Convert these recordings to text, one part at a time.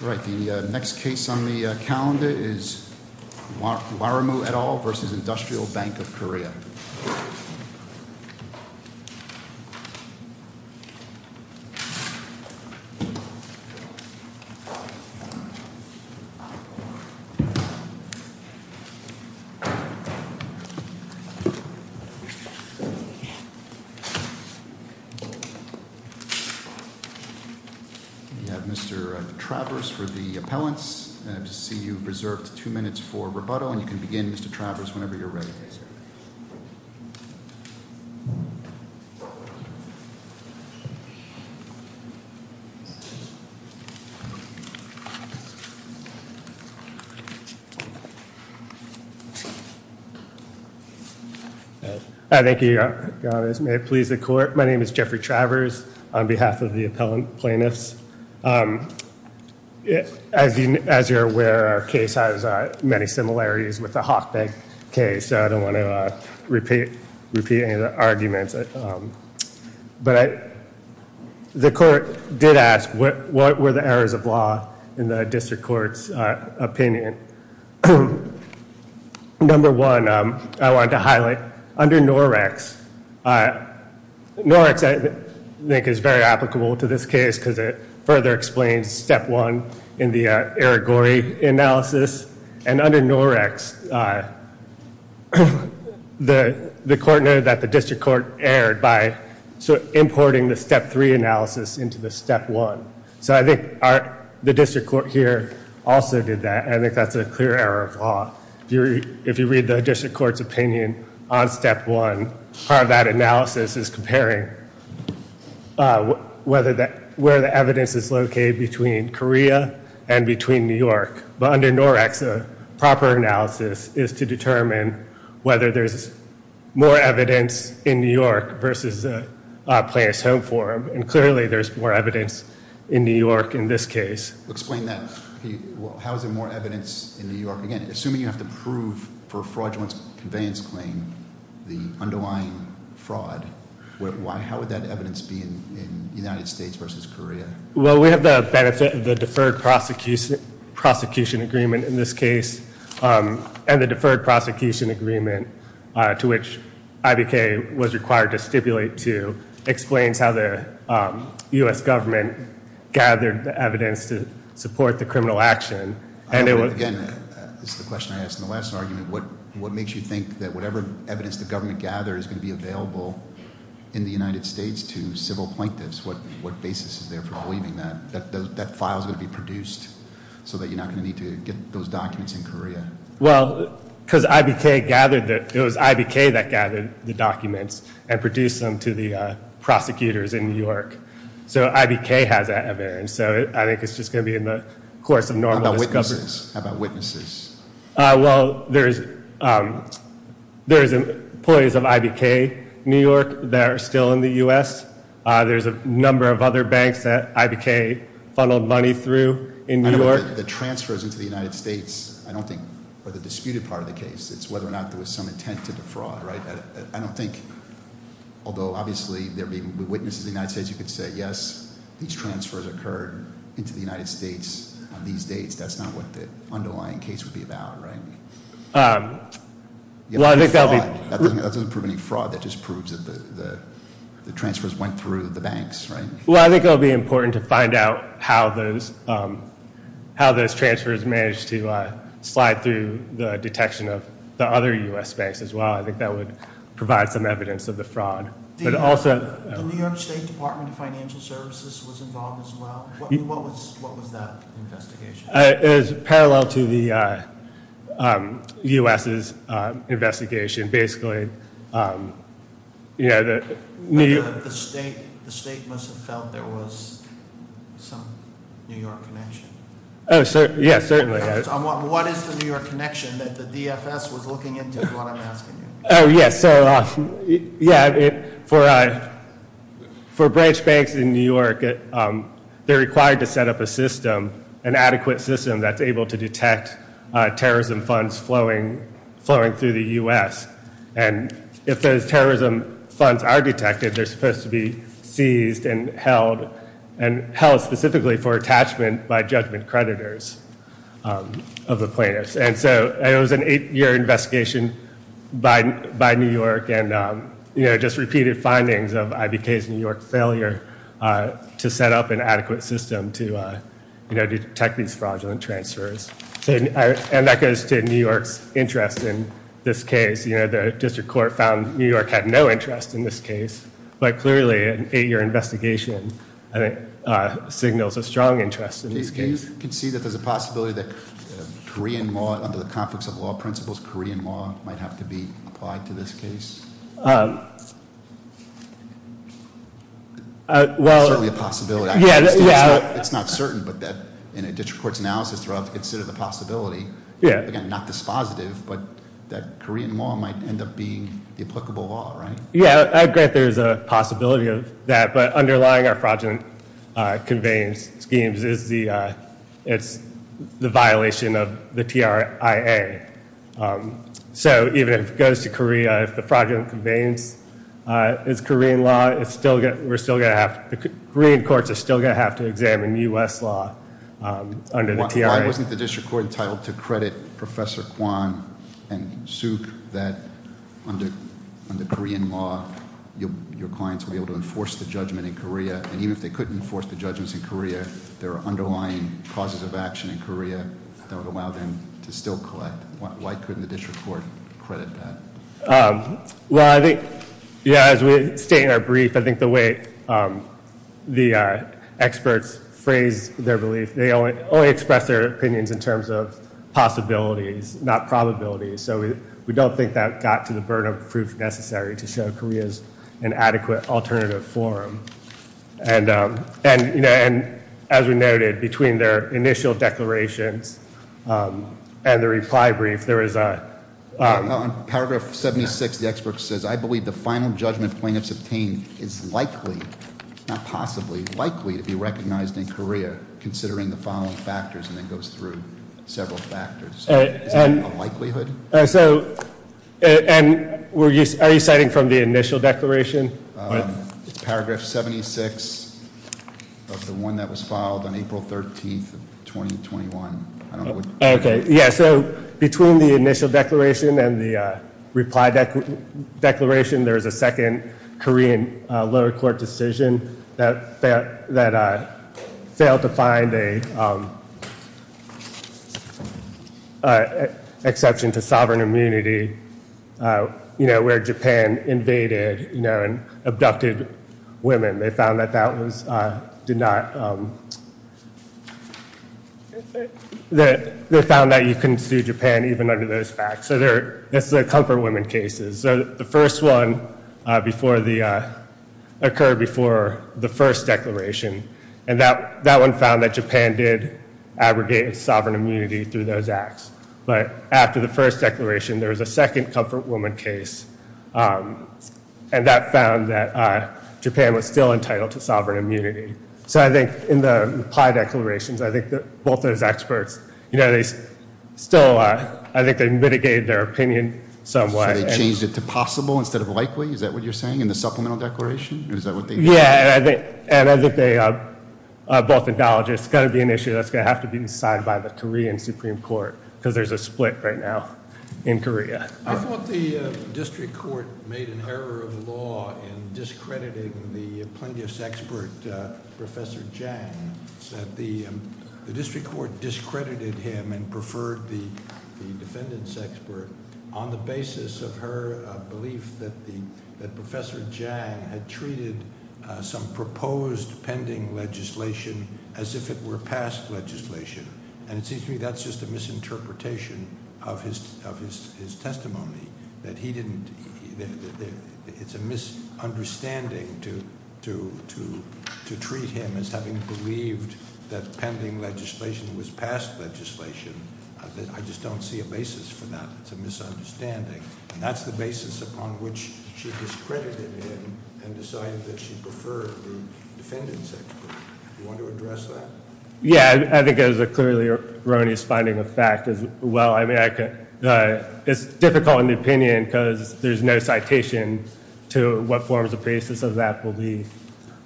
The next case on the calendar is Waramu et al. v. Industrial Bank of Korea. You have Mr. Travers for the appellants. I see you have reserved two minutes for rebuttal, and you can begin Mr. Travers whenever you're ready. Thank you. Thank you. May it please the court. My name is Jeffrey Travers on behalf of the appellant plaintiffs. As you're aware, our case has many similarities with the Hochberg case, so I don't want to repeat any of the arguments. But the court did ask what were the errors of law in the district court's opinion. Number one, I want to highlight under NOREX, NOREX I think is very applicable to this case because it further explains step one in the Irigori analysis. And under NOREX, the court noted that the district court erred by importing the step three analysis into the step one. So I think the district court here also did that, and I think that's a clear error of law. If you read the district court's opinion on step one, part of that analysis is comparing where the evidence is located between Korea and between New York. But under NOREX, a proper analysis is to determine whether there's more evidence in New York versus Plaintiff's Home Forum. And clearly, there's more evidence in New York in this case. Explain that. How is there more evidence in New York? Again, assuming you have to prove for a fraudulent conveyance claim the underlying fraud, how would that evidence be in the United States versus Korea? Well, we have the benefit of the deferred prosecution agreement in this case, and the deferred prosecution agreement to which IBK was required to stipulate to explains how the US government gathered the evidence to support the criminal action. Again, this is the question I asked in the last argument. What makes you think that whatever evidence the government gathered is going to be available in the United States to civil plaintiffs? What basis is there for believing that that file is going to be produced so that you're not going to need to get those documents in Korea? Well, because it was IBK that gathered the documents and produced them to the prosecutors in New York. So IBK has that evidence. So I think it's just going to be in the course of normal discovery. How about witnesses? Well, there's employees of IBK New York that are still in the US. There's a number of other banks that IBK funneled money through in New York. The transfers into the United States, I don't think, are the disputed part of the case. It's whether or not there was some intent to defraud, right? I don't think, although obviously there would be witnesses in the United States who could say, yes, these transfers occurred into the United States on these dates. That's not what the underlying case would be about, right? Well, I think that would be- That doesn't prove any fraud. That just proves that the transfers went through the banks, right? Well, I think it would be important to find out how those transfers managed to slide through the detection of the other US banks as well. I think that would provide some evidence of the fraud. But also- The New York State Department of Financial Services was involved as well? What was that investigation? It was parallel to the US's investigation. Basically, the- The state must have felt there was some New York connection. Yes, certainly. What is the New York connection that the DFS was looking into is what I'm asking you. Oh, yes. So, yeah, for branch banks in New York, they're required to set up a system, an adequate system that's able to detect terrorism funds flowing through the US. And if those terrorism funds are detected, they're supposed to be seized and held, and held specifically for attachment by judgment creditors of the plaintiffs. And so it was an eight-year investigation by New York, and just repeated findings of IBK's New York failure to set up an adequate system to detect these fraudulent transfers. And that goes to New York's interest in this case. The district court found New York had no interest in this case. But clearly, an eight-year investigation, I think, signals a strong interest in this case. Do you concede that there's a possibility that Korean law, under the conflicts of law principles, Korean law might have to be applied to this case? Well- Certainly a possibility. Yeah, yeah. It's not certain, but in a district court's analysis, it's sort of a possibility. Yeah. Again, not dispositive, but that Korean law might end up being the applicable law, right? Yeah, I agree that there's a possibility of that. But underlying our fraudulent conveyance schemes is the violation of the TRIA. So even if it goes to Korea, if the fraudulent conveyance is Korean law, we're still going to have- Korean courts are still going to have to examine U.S. law under the TRIA. Why wasn't the district court entitled to credit Professor Kwon and Suk that under Korean law, your clients would be able to enforce the judgment in Korea? And even if they couldn't enforce the judgments in Korea, there are underlying causes of action in Korea that would allow them to still collect. Why couldn't the district court credit that? Well, I think, yeah, as we state in our brief, I think the way the experts phrase their belief, they only express their opinions in terms of possibilities, not probabilities. So we don't think that got to the burden of proof necessary to show Korea's an adequate alternative forum. And as we noted, between their initial declarations and the reply brief, there is a- On paragraph 76, the expert says, I believe the final judgment plaintiffs obtain is likely, not possibly, likely to be recognized in Korea, considering the following factors, and then goes through several factors. Is that a likelihood? So, and are you citing from the initial declaration? Paragraph 76 of the one that was filed on April 13th of 2021. I don't know what- Okay, yeah, so between the initial declaration and the reply declaration, there is a second Korean lower court decision that failed to find an exception to sovereign immunity, you know, where Japan invaded, you know, and abducted women. They found that that was, did not- They found that you couldn't sue Japan even under those facts. So this is a comfort women cases. So the first one before the- occurred before the first declaration, and that one found that Japan did abrogate sovereign immunity through those acts. But after the first declaration, there was a second comfort woman case, and that found that Japan was still entitled to sovereign immunity. So I think in the reply declarations, I think that both of those experts, you know, they still, I think they mitigated their opinion somewhat. So they changed it to possible instead of likely? Is that what you're saying in the supplemental declaration? Yeah, and I think they both acknowledge it's going to be an issue that's going to have to be decided by the Korean Supreme Court, because there's a split right now in Korea. I thought the district court made an error of law in discrediting the plaintiff's expert, Professor Jang. The district court discredited him and preferred the defendant's expert on the basis of her belief that Professor Jang had treated some proposed pending legislation as if it were past legislation. And it seems to me that's just a misinterpretation of his testimony, that he didn't, it's a misunderstanding to treat him as having believed that pending legislation was past legislation. I just don't see a basis for that. It's a misunderstanding. And that's the basis upon which she discredited him and decided that she preferred the defendant's expert. Do you want to address that? Yeah, I think it is a clearly erroneous finding of fact as well. I mean, it's difficult in the opinion because there's no citation to what forms of basis of that belief.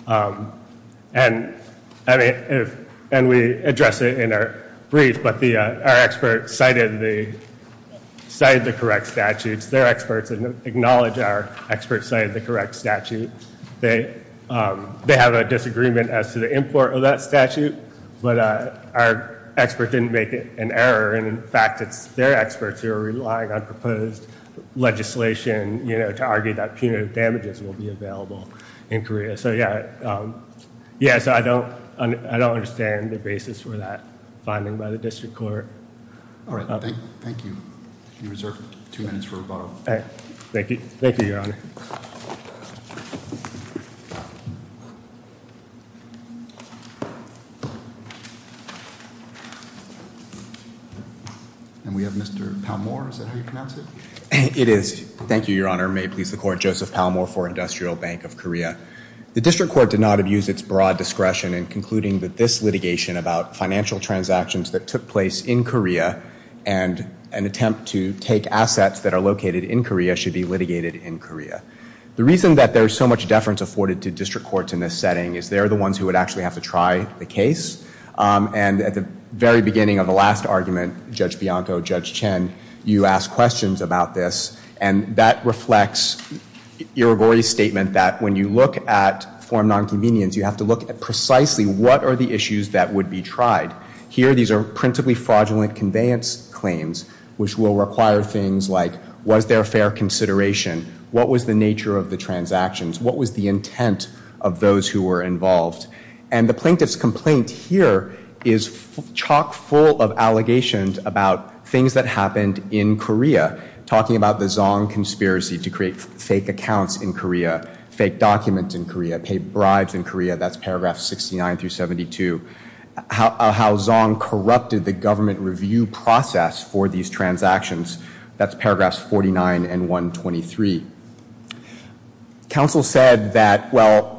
And we address it in our brief, but our experts cited the correct statutes. They're experts and acknowledge our experts cited the correct statute. They have a disagreement as to the import of that statute, but our expert didn't make an error. And in fact, it's their experts who are relying on proposed legislation to argue that punitive damages will be available in Korea. So yeah, I don't understand the basis for that finding by the district court. All right. Thank you. Can you reserve two minutes for rebuttal? Thank you. Thank you, Your Honor. And we have Mr. Palmore. Is that how you pronounce it? It is. Thank you, Your Honor. May it please the Court. Joseph Palmore for Industrial Bank of Korea. The district court did not abuse its broad discretion in concluding that this litigation about financial transactions that took place in Korea and an attempt to take assets that are located in Korea should be litigated in Korea. The reason that there's so much deference afforded to district courts in this setting is they're the ones who would actually have to try the case. And at the very beginning of the last argument, Judge Bianco, Judge Chen, you asked questions about this. And that reflects Irigoye's statement that when you look at form nonconvenience, you have to look at precisely what are the issues that would be tried. Here, these are principally fraudulent conveyance claims which will require things like was there fair consideration? What was the nature of the transactions? What was the intent of those who were involved? And the plaintiff's complaint here is chock full of allegations about things that happened in Korea, talking about the Zong conspiracy to create fake accounts in Korea, fake documents in Korea, pay bribes in Korea. That's paragraph 69 through 72. How Zong corrupted the government review process for these transactions, that's paragraphs 49 and 123. Counsel said that, well,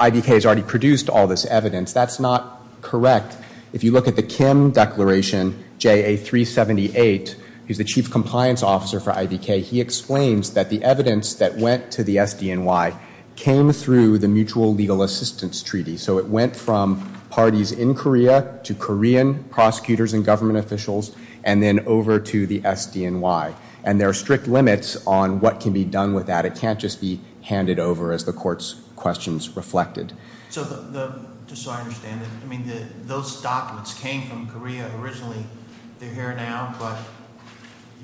IDK has already produced all this evidence. That's not correct. If you look at the Kim Declaration, JA 378, who's the chief compliance officer for IDK, he explains that the evidence that went to the SDNY came through the Mutual Legal Assistance Treaty. So it went from parties in Korea to Korean prosecutors and government officials and then over to the SDNY. And there are strict limits on what can be done with that. It can't just be handed over as the court's questions reflected. So just so I understand, those documents came from Korea originally. They're here now, but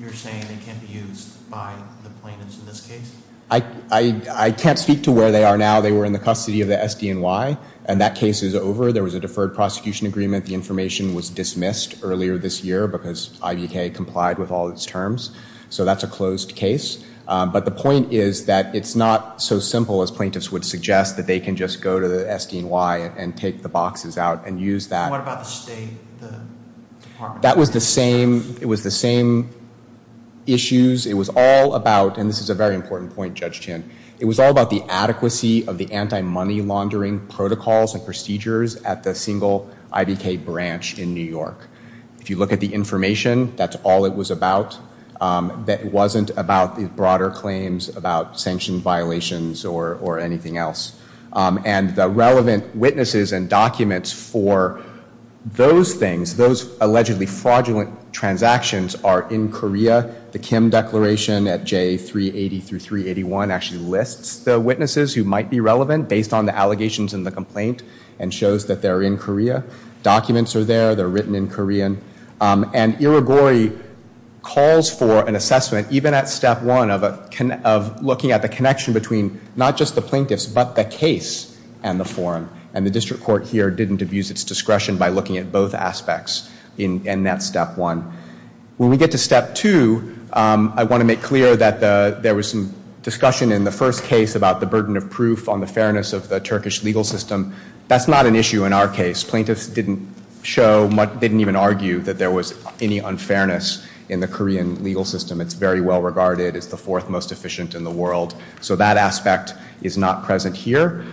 you're saying they can't be used by the plaintiffs in this case? I can't speak to where they are now. They were in the custody of the SDNY, and that case is over. There was a deferred prosecution agreement. The information was dismissed earlier this year because IDK complied with all its terms. So that's a closed case. But the point is that it's not so simple as plaintiffs would suggest, that they can just go to the SDNY and take the boxes out and use that. What about the State Department? That was the same issues. It was all about, and this is a very important point, Judge Chin, it was all about the adequacy of the anti-money laundering protocols and procedures at the single IDK branch in New York. If you look at the information, that's all it was about. It wasn't about the broader claims, about sanction violations or anything else. And the relevant witnesses and documents for those things, those allegedly fraudulent transactions, are in Korea. The Kim declaration at J380-381 actually lists the witnesses who might be relevant based on the allegations in the complaint and shows that they're in Korea. Documents are there. They're written in Korean. And Irigori calls for an assessment, even at step one, of looking at the connection between not just the plaintiffs but the case and the forum. And the district court here didn't abuse its discretion by looking at both aspects in that step one. When we get to step two, I want to make clear that there was some discussion in the first case about the burden of proof on the fairness of the Turkish legal system. That's not an issue in our case. Plaintiffs didn't show, didn't even argue that there was any unfairness in the Korean legal system. It's very well regarded. It's the fourth most efficient in the world. So that aspect is not present here.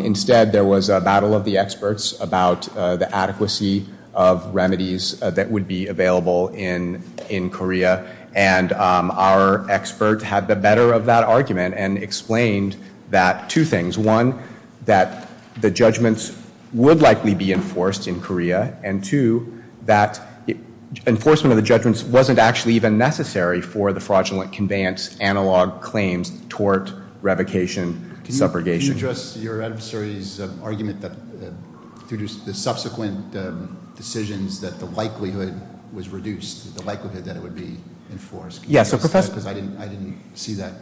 Instead, there was a battle of the experts about the adequacy of remedies that would be available in Korea. And our expert had the better of that argument and explained that, two things. One, that the judgments would likely be enforced in Korea. And two, that enforcement of the judgments wasn't actually even necessary for the fraudulent conveyance, analog claims, tort, revocation, separation. Can you address your adversary's argument that through the subsequent decisions that the likelihood was reduced, the likelihood that it would be enforced? Because I didn't see that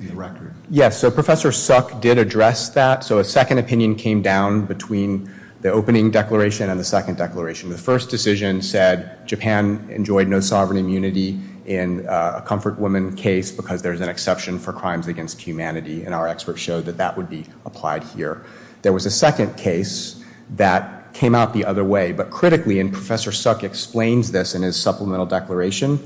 in the record. Yes, so Professor Suk did address that. So a second opinion came down between the opening declaration and the second declaration. The first decision said Japan enjoyed no sovereign immunity in a Comfort Women case because there's an exception for crimes against humanity. And our experts showed that that would be applied here. There was a second case that came out the other way. But critically, and Professor Suk explains this in his supplemental declaration,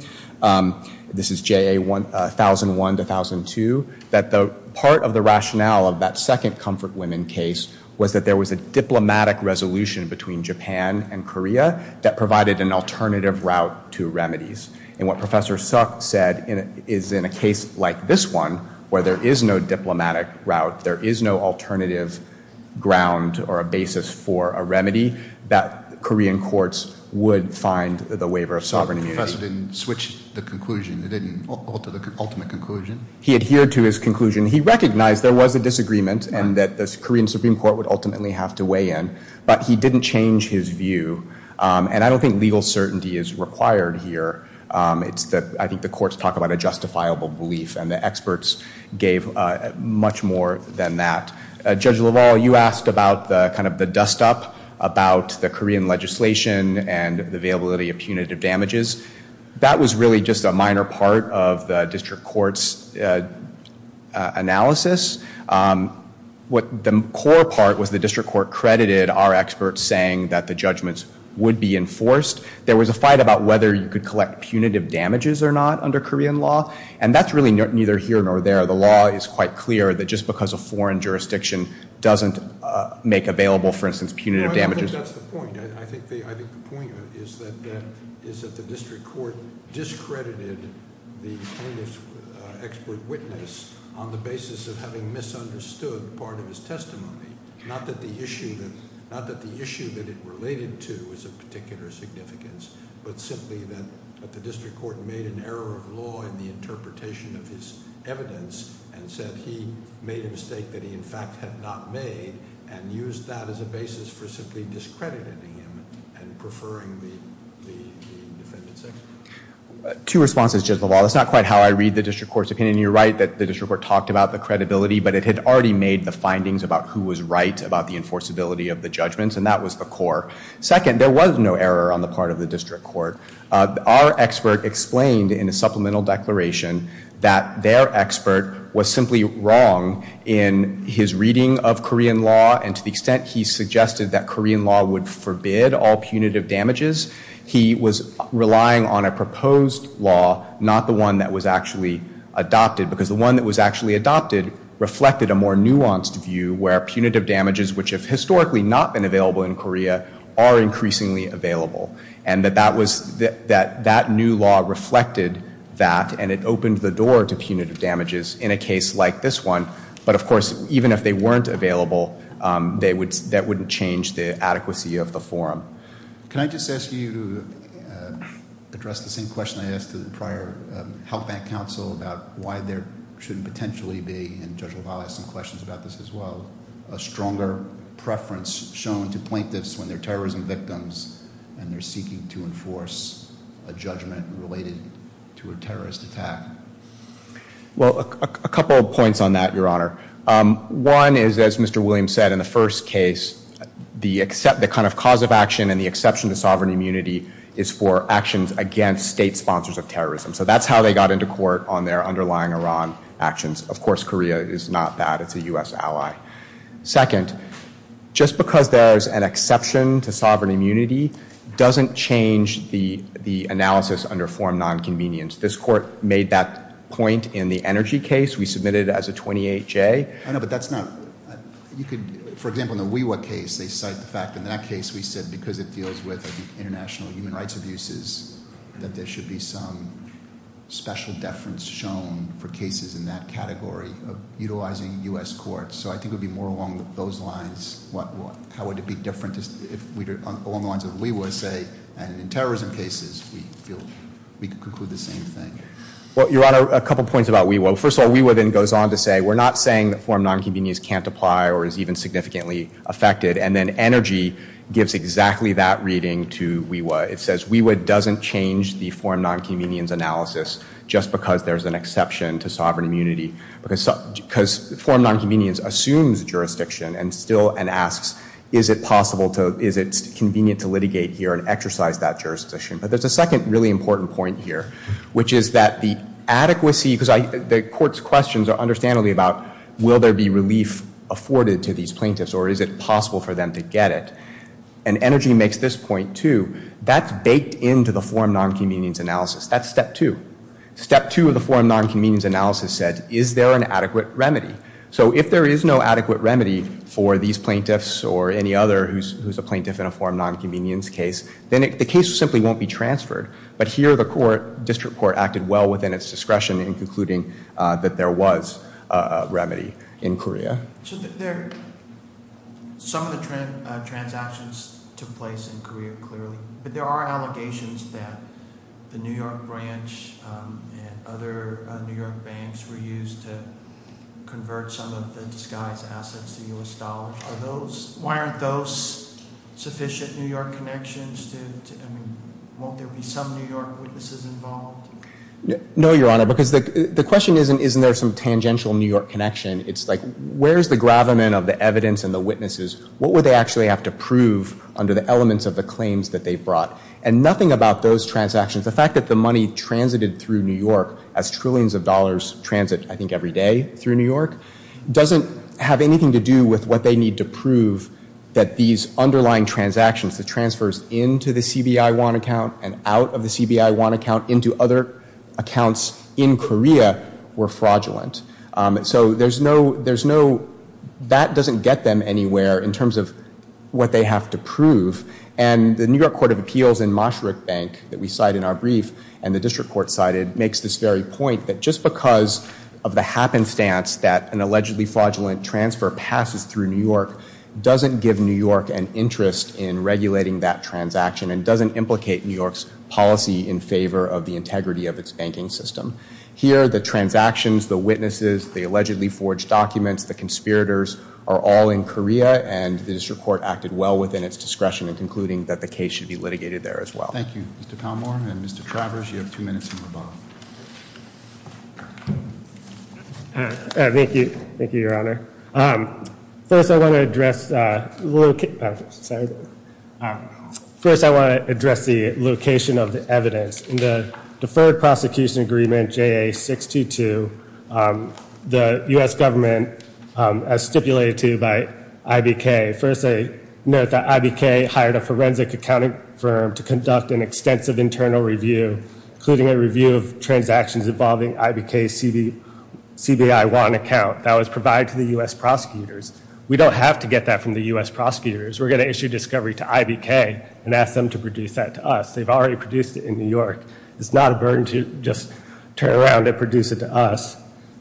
this is JA 1001 to 1002, that the part of the rationale of that second Comfort Women case was that there was a diplomatic resolution between Japan and Korea that provided an alternative route to remedies. And what Professor Suk said is in a case like this one, where there is no diplomatic route, there is no alternative ground or a basis for a remedy, that Korean courts would find the waiver of sovereign immunity. So the professor didn't switch the conclusion? He didn't alter the ultimate conclusion? He adhered to his conclusion. He recognized there was a disagreement and that the Korean Supreme Court would ultimately have to weigh in. But he didn't change his view. And I don't think legal certainty is required here. I think the courts talk about a justifiable belief, and the experts gave much more than that. Judge LaValle, you asked about the dust-up about the Korean legislation and the availability of punitive damages. That was really just a minor part of the district court's analysis. The core part was the district court credited our experts saying that the judgments would be enforced. There was a fight about whether you could collect punitive damages or not under Korean law, and that's really neither here nor there. The law is quite clear that just because a foreign jurisdiction doesn't make available, for instance, punitive damages. I don't think that's the point. I think the point is that the district court discredited the plaintiff's expert witness on the basis of having misunderstood part of his testimony. Not that the issue that it related to is of particular significance, but simply that the district court made an error of law in the interpretation of his evidence and said he made a mistake that he in fact had not made and used that as a basis for simply discrediting him and preferring the defendant's expert witness. Two responses, Judge LaValle. That's not quite how I read the district court's opinion. You're right that the district court talked about the credibility, but it had already made the findings about who was right about the enforceability of the judgments, and that was the core. Second, there was no error on the part of the district court. Our expert explained in a supplemental declaration that their expert was simply wrong in his reading of Korean law, and to the extent he suggested that Korean law would forbid all punitive damages, he was relying on a proposed law, not the one that was actually adopted, because the one that was actually adopted reflected a more nuanced view where punitive damages, which have historically not been available in Korea, are increasingly available, and that that new law reflected that, and it opened the door to punitive damages in a case like this one. But, of course, even if they weren't available, that wouldn't change the adequacy of the forum. Can I just ask you to address the same question I asked to the prior health bank counsel about why there shouldn't potentially be, and Judge LaValle asked some questions about this as well, a stronger preference shown to plaintiffs when they're terrorism victims and they're seeking to enforce a judgment related to a terrorist attack? Well, a couple of points on that, Your Honor. One is, as Mr. Williams said in the first case, the kind of cause of action and the exception to sovereign immunity is for actions against state sponsors of terrorism. So that's how they got into court on their underlying Iran actions. Of course, Korea is not that. It's a U.S. ally. Second, just because there's an exception to sovereign immunity doesn't change the analysis under form nonconvenience. This court made that point in the energy case. We submitted it as a 28-J. I know, but that's not – for example, in the WeWa case, they cite the fact that in that case we said because it deals with international human rights abuses, that there should be some special deference shown for cases in that category of utilizing U.S. courts. So I think it would be more along those lines. How would it be different if we were along the lines of WeWa, say, and in terrorism cases we feel we could conclude the same thing? Well, Your Honor, a couple points about WeWa. First of all, WeWa then goes on to say we're not saying that form nonconvenience can't apply or is even significantly affected, and then energy gives exactly that reading to WeWa. It says WeWa doesn't change the form nonconvenience analysis just because there's an exception to sovereign immunity Is it possible to – is it convenient to litigate here and exercise that jurisdiction? But there's a second really important point here, which is that the adequacy – because the court's questions are understandably about will there be relief afforded to these plaintiffs or is it possible for them to get it? And energy makes this point, too. That's baked into the form nonconvenience analysis. That's step two. Step two of the form nonconvenience analysis said, is there an adequate remedy? So if there is no adequate remedy for these plaintiffs or any other who's a plaintiff in a form nonconvenience case, then the case simply won't be transferred. But here the court, district court, acted well within its discretion in concluding that there was a remedy in Korea. So there – some of the transactions took place in Korea, clearly, but there are allegations that the New York branch and other New York banks were used to convert some of the disguised assets to U.S. dollars. Are those – why aren't those sufficient New York connections to – I mean, won't there be some New York witnesses involved? No, Your Honor, because the question isn't isn't there some tangential New York connection. It's like where's the gravamen of the evidence and the witnesses? What would they actually have to prove under the elements of the claims that they brought? And nothing about those transactions. The fact that the money transited through New York as trillions of dollars transit, I think, every day through New York doesn't have anything to do with what they need to prove that these underlying transactions, the transfers into the CBI want account and out of the CBI want account into other accounts in Korea were fraudulent. So there's no – there's no – that doesn't get them anywhere in terms of what they have to prove. And the New York Court of Appeals and Mosharuk Bank that we cite in our brief and the district court cited makes this very point that just because of the happenstance that an allegedly fraudulent transfer passes through New York doesn't give New York an interest in regulating that transaction and doesn't implicate New York's policy in favor of the integrity of its banking system. Here, the transactions, the witnesses, the allegedly forged documents, the conspirators are all in Korea and the district court acted well within its discretion in concluding that the case should be litigated there as well. Thank you, Mr. Palmore. And Mr. Travers, you have two minutes from the bottom. Thank you. Thank you, Your Honor. First, I want to address – sorry. First, I want to address the location of the evidence. In the Deferred Prosecution Agreement JA622, the U.S. government, as stipulated to by IBK, first I note that IBK hired a forensic accounting firm to conduct an extensive internal review, including a review of transactions involving IBK's CBI Wan account that was provided to the U.S. prosecutors. We don't have to get that from the U.S. prosecutors. We're going to issue discovery to IBK and ask them to produce that to us. They've already produced it in New York. It's not a burden to just turn around and produce it to us.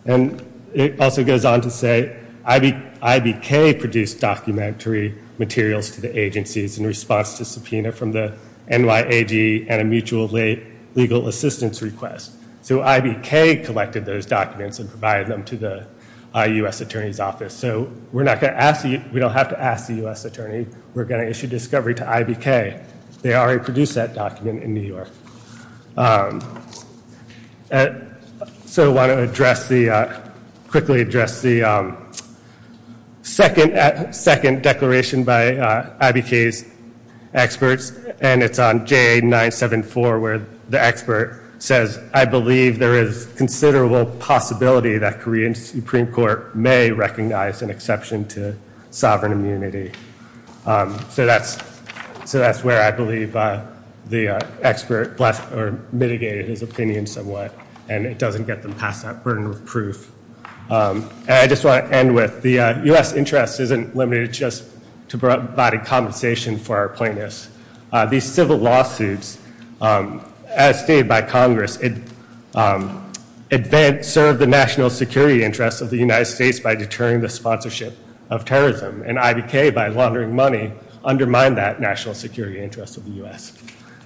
And it also goes on to say IBK produced documentary materials to the agencies in response to subpoena from the NYAD and a mutual legal assistance request. So IBK collected those documents and provided them to the U.S. Attorney's Office. So we're not going to ask – we don't have to ask the U.S. Attorney. We're going to issue discovery to IBK. They already produced that document in New York. So I want to address the – quickly address the second declaration by IBK's experts, and it's on JA974 where the expert says, I believe there is considerable possibility that Korean Supreme Court may recognize an exception to sovereign immunity. So that's where I believe the expert mitigated his opinion somewhat, and it doesn't get them past that burden of proof. And I just want to end with the U.S. interest isn't limited just to body compensation for our plaintiffs. These civil lawsuits, as stated by Congress, serve the national security interests of the United States by deterring the sponsorship of terrorism. And IBK, by laundering money, undermined that national security interest of the U.S.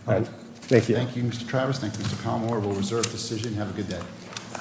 Thank you. Thank you, Mr. Travis. Thank you, Mr. Palmore. We'll reserve the decision. Have a good day.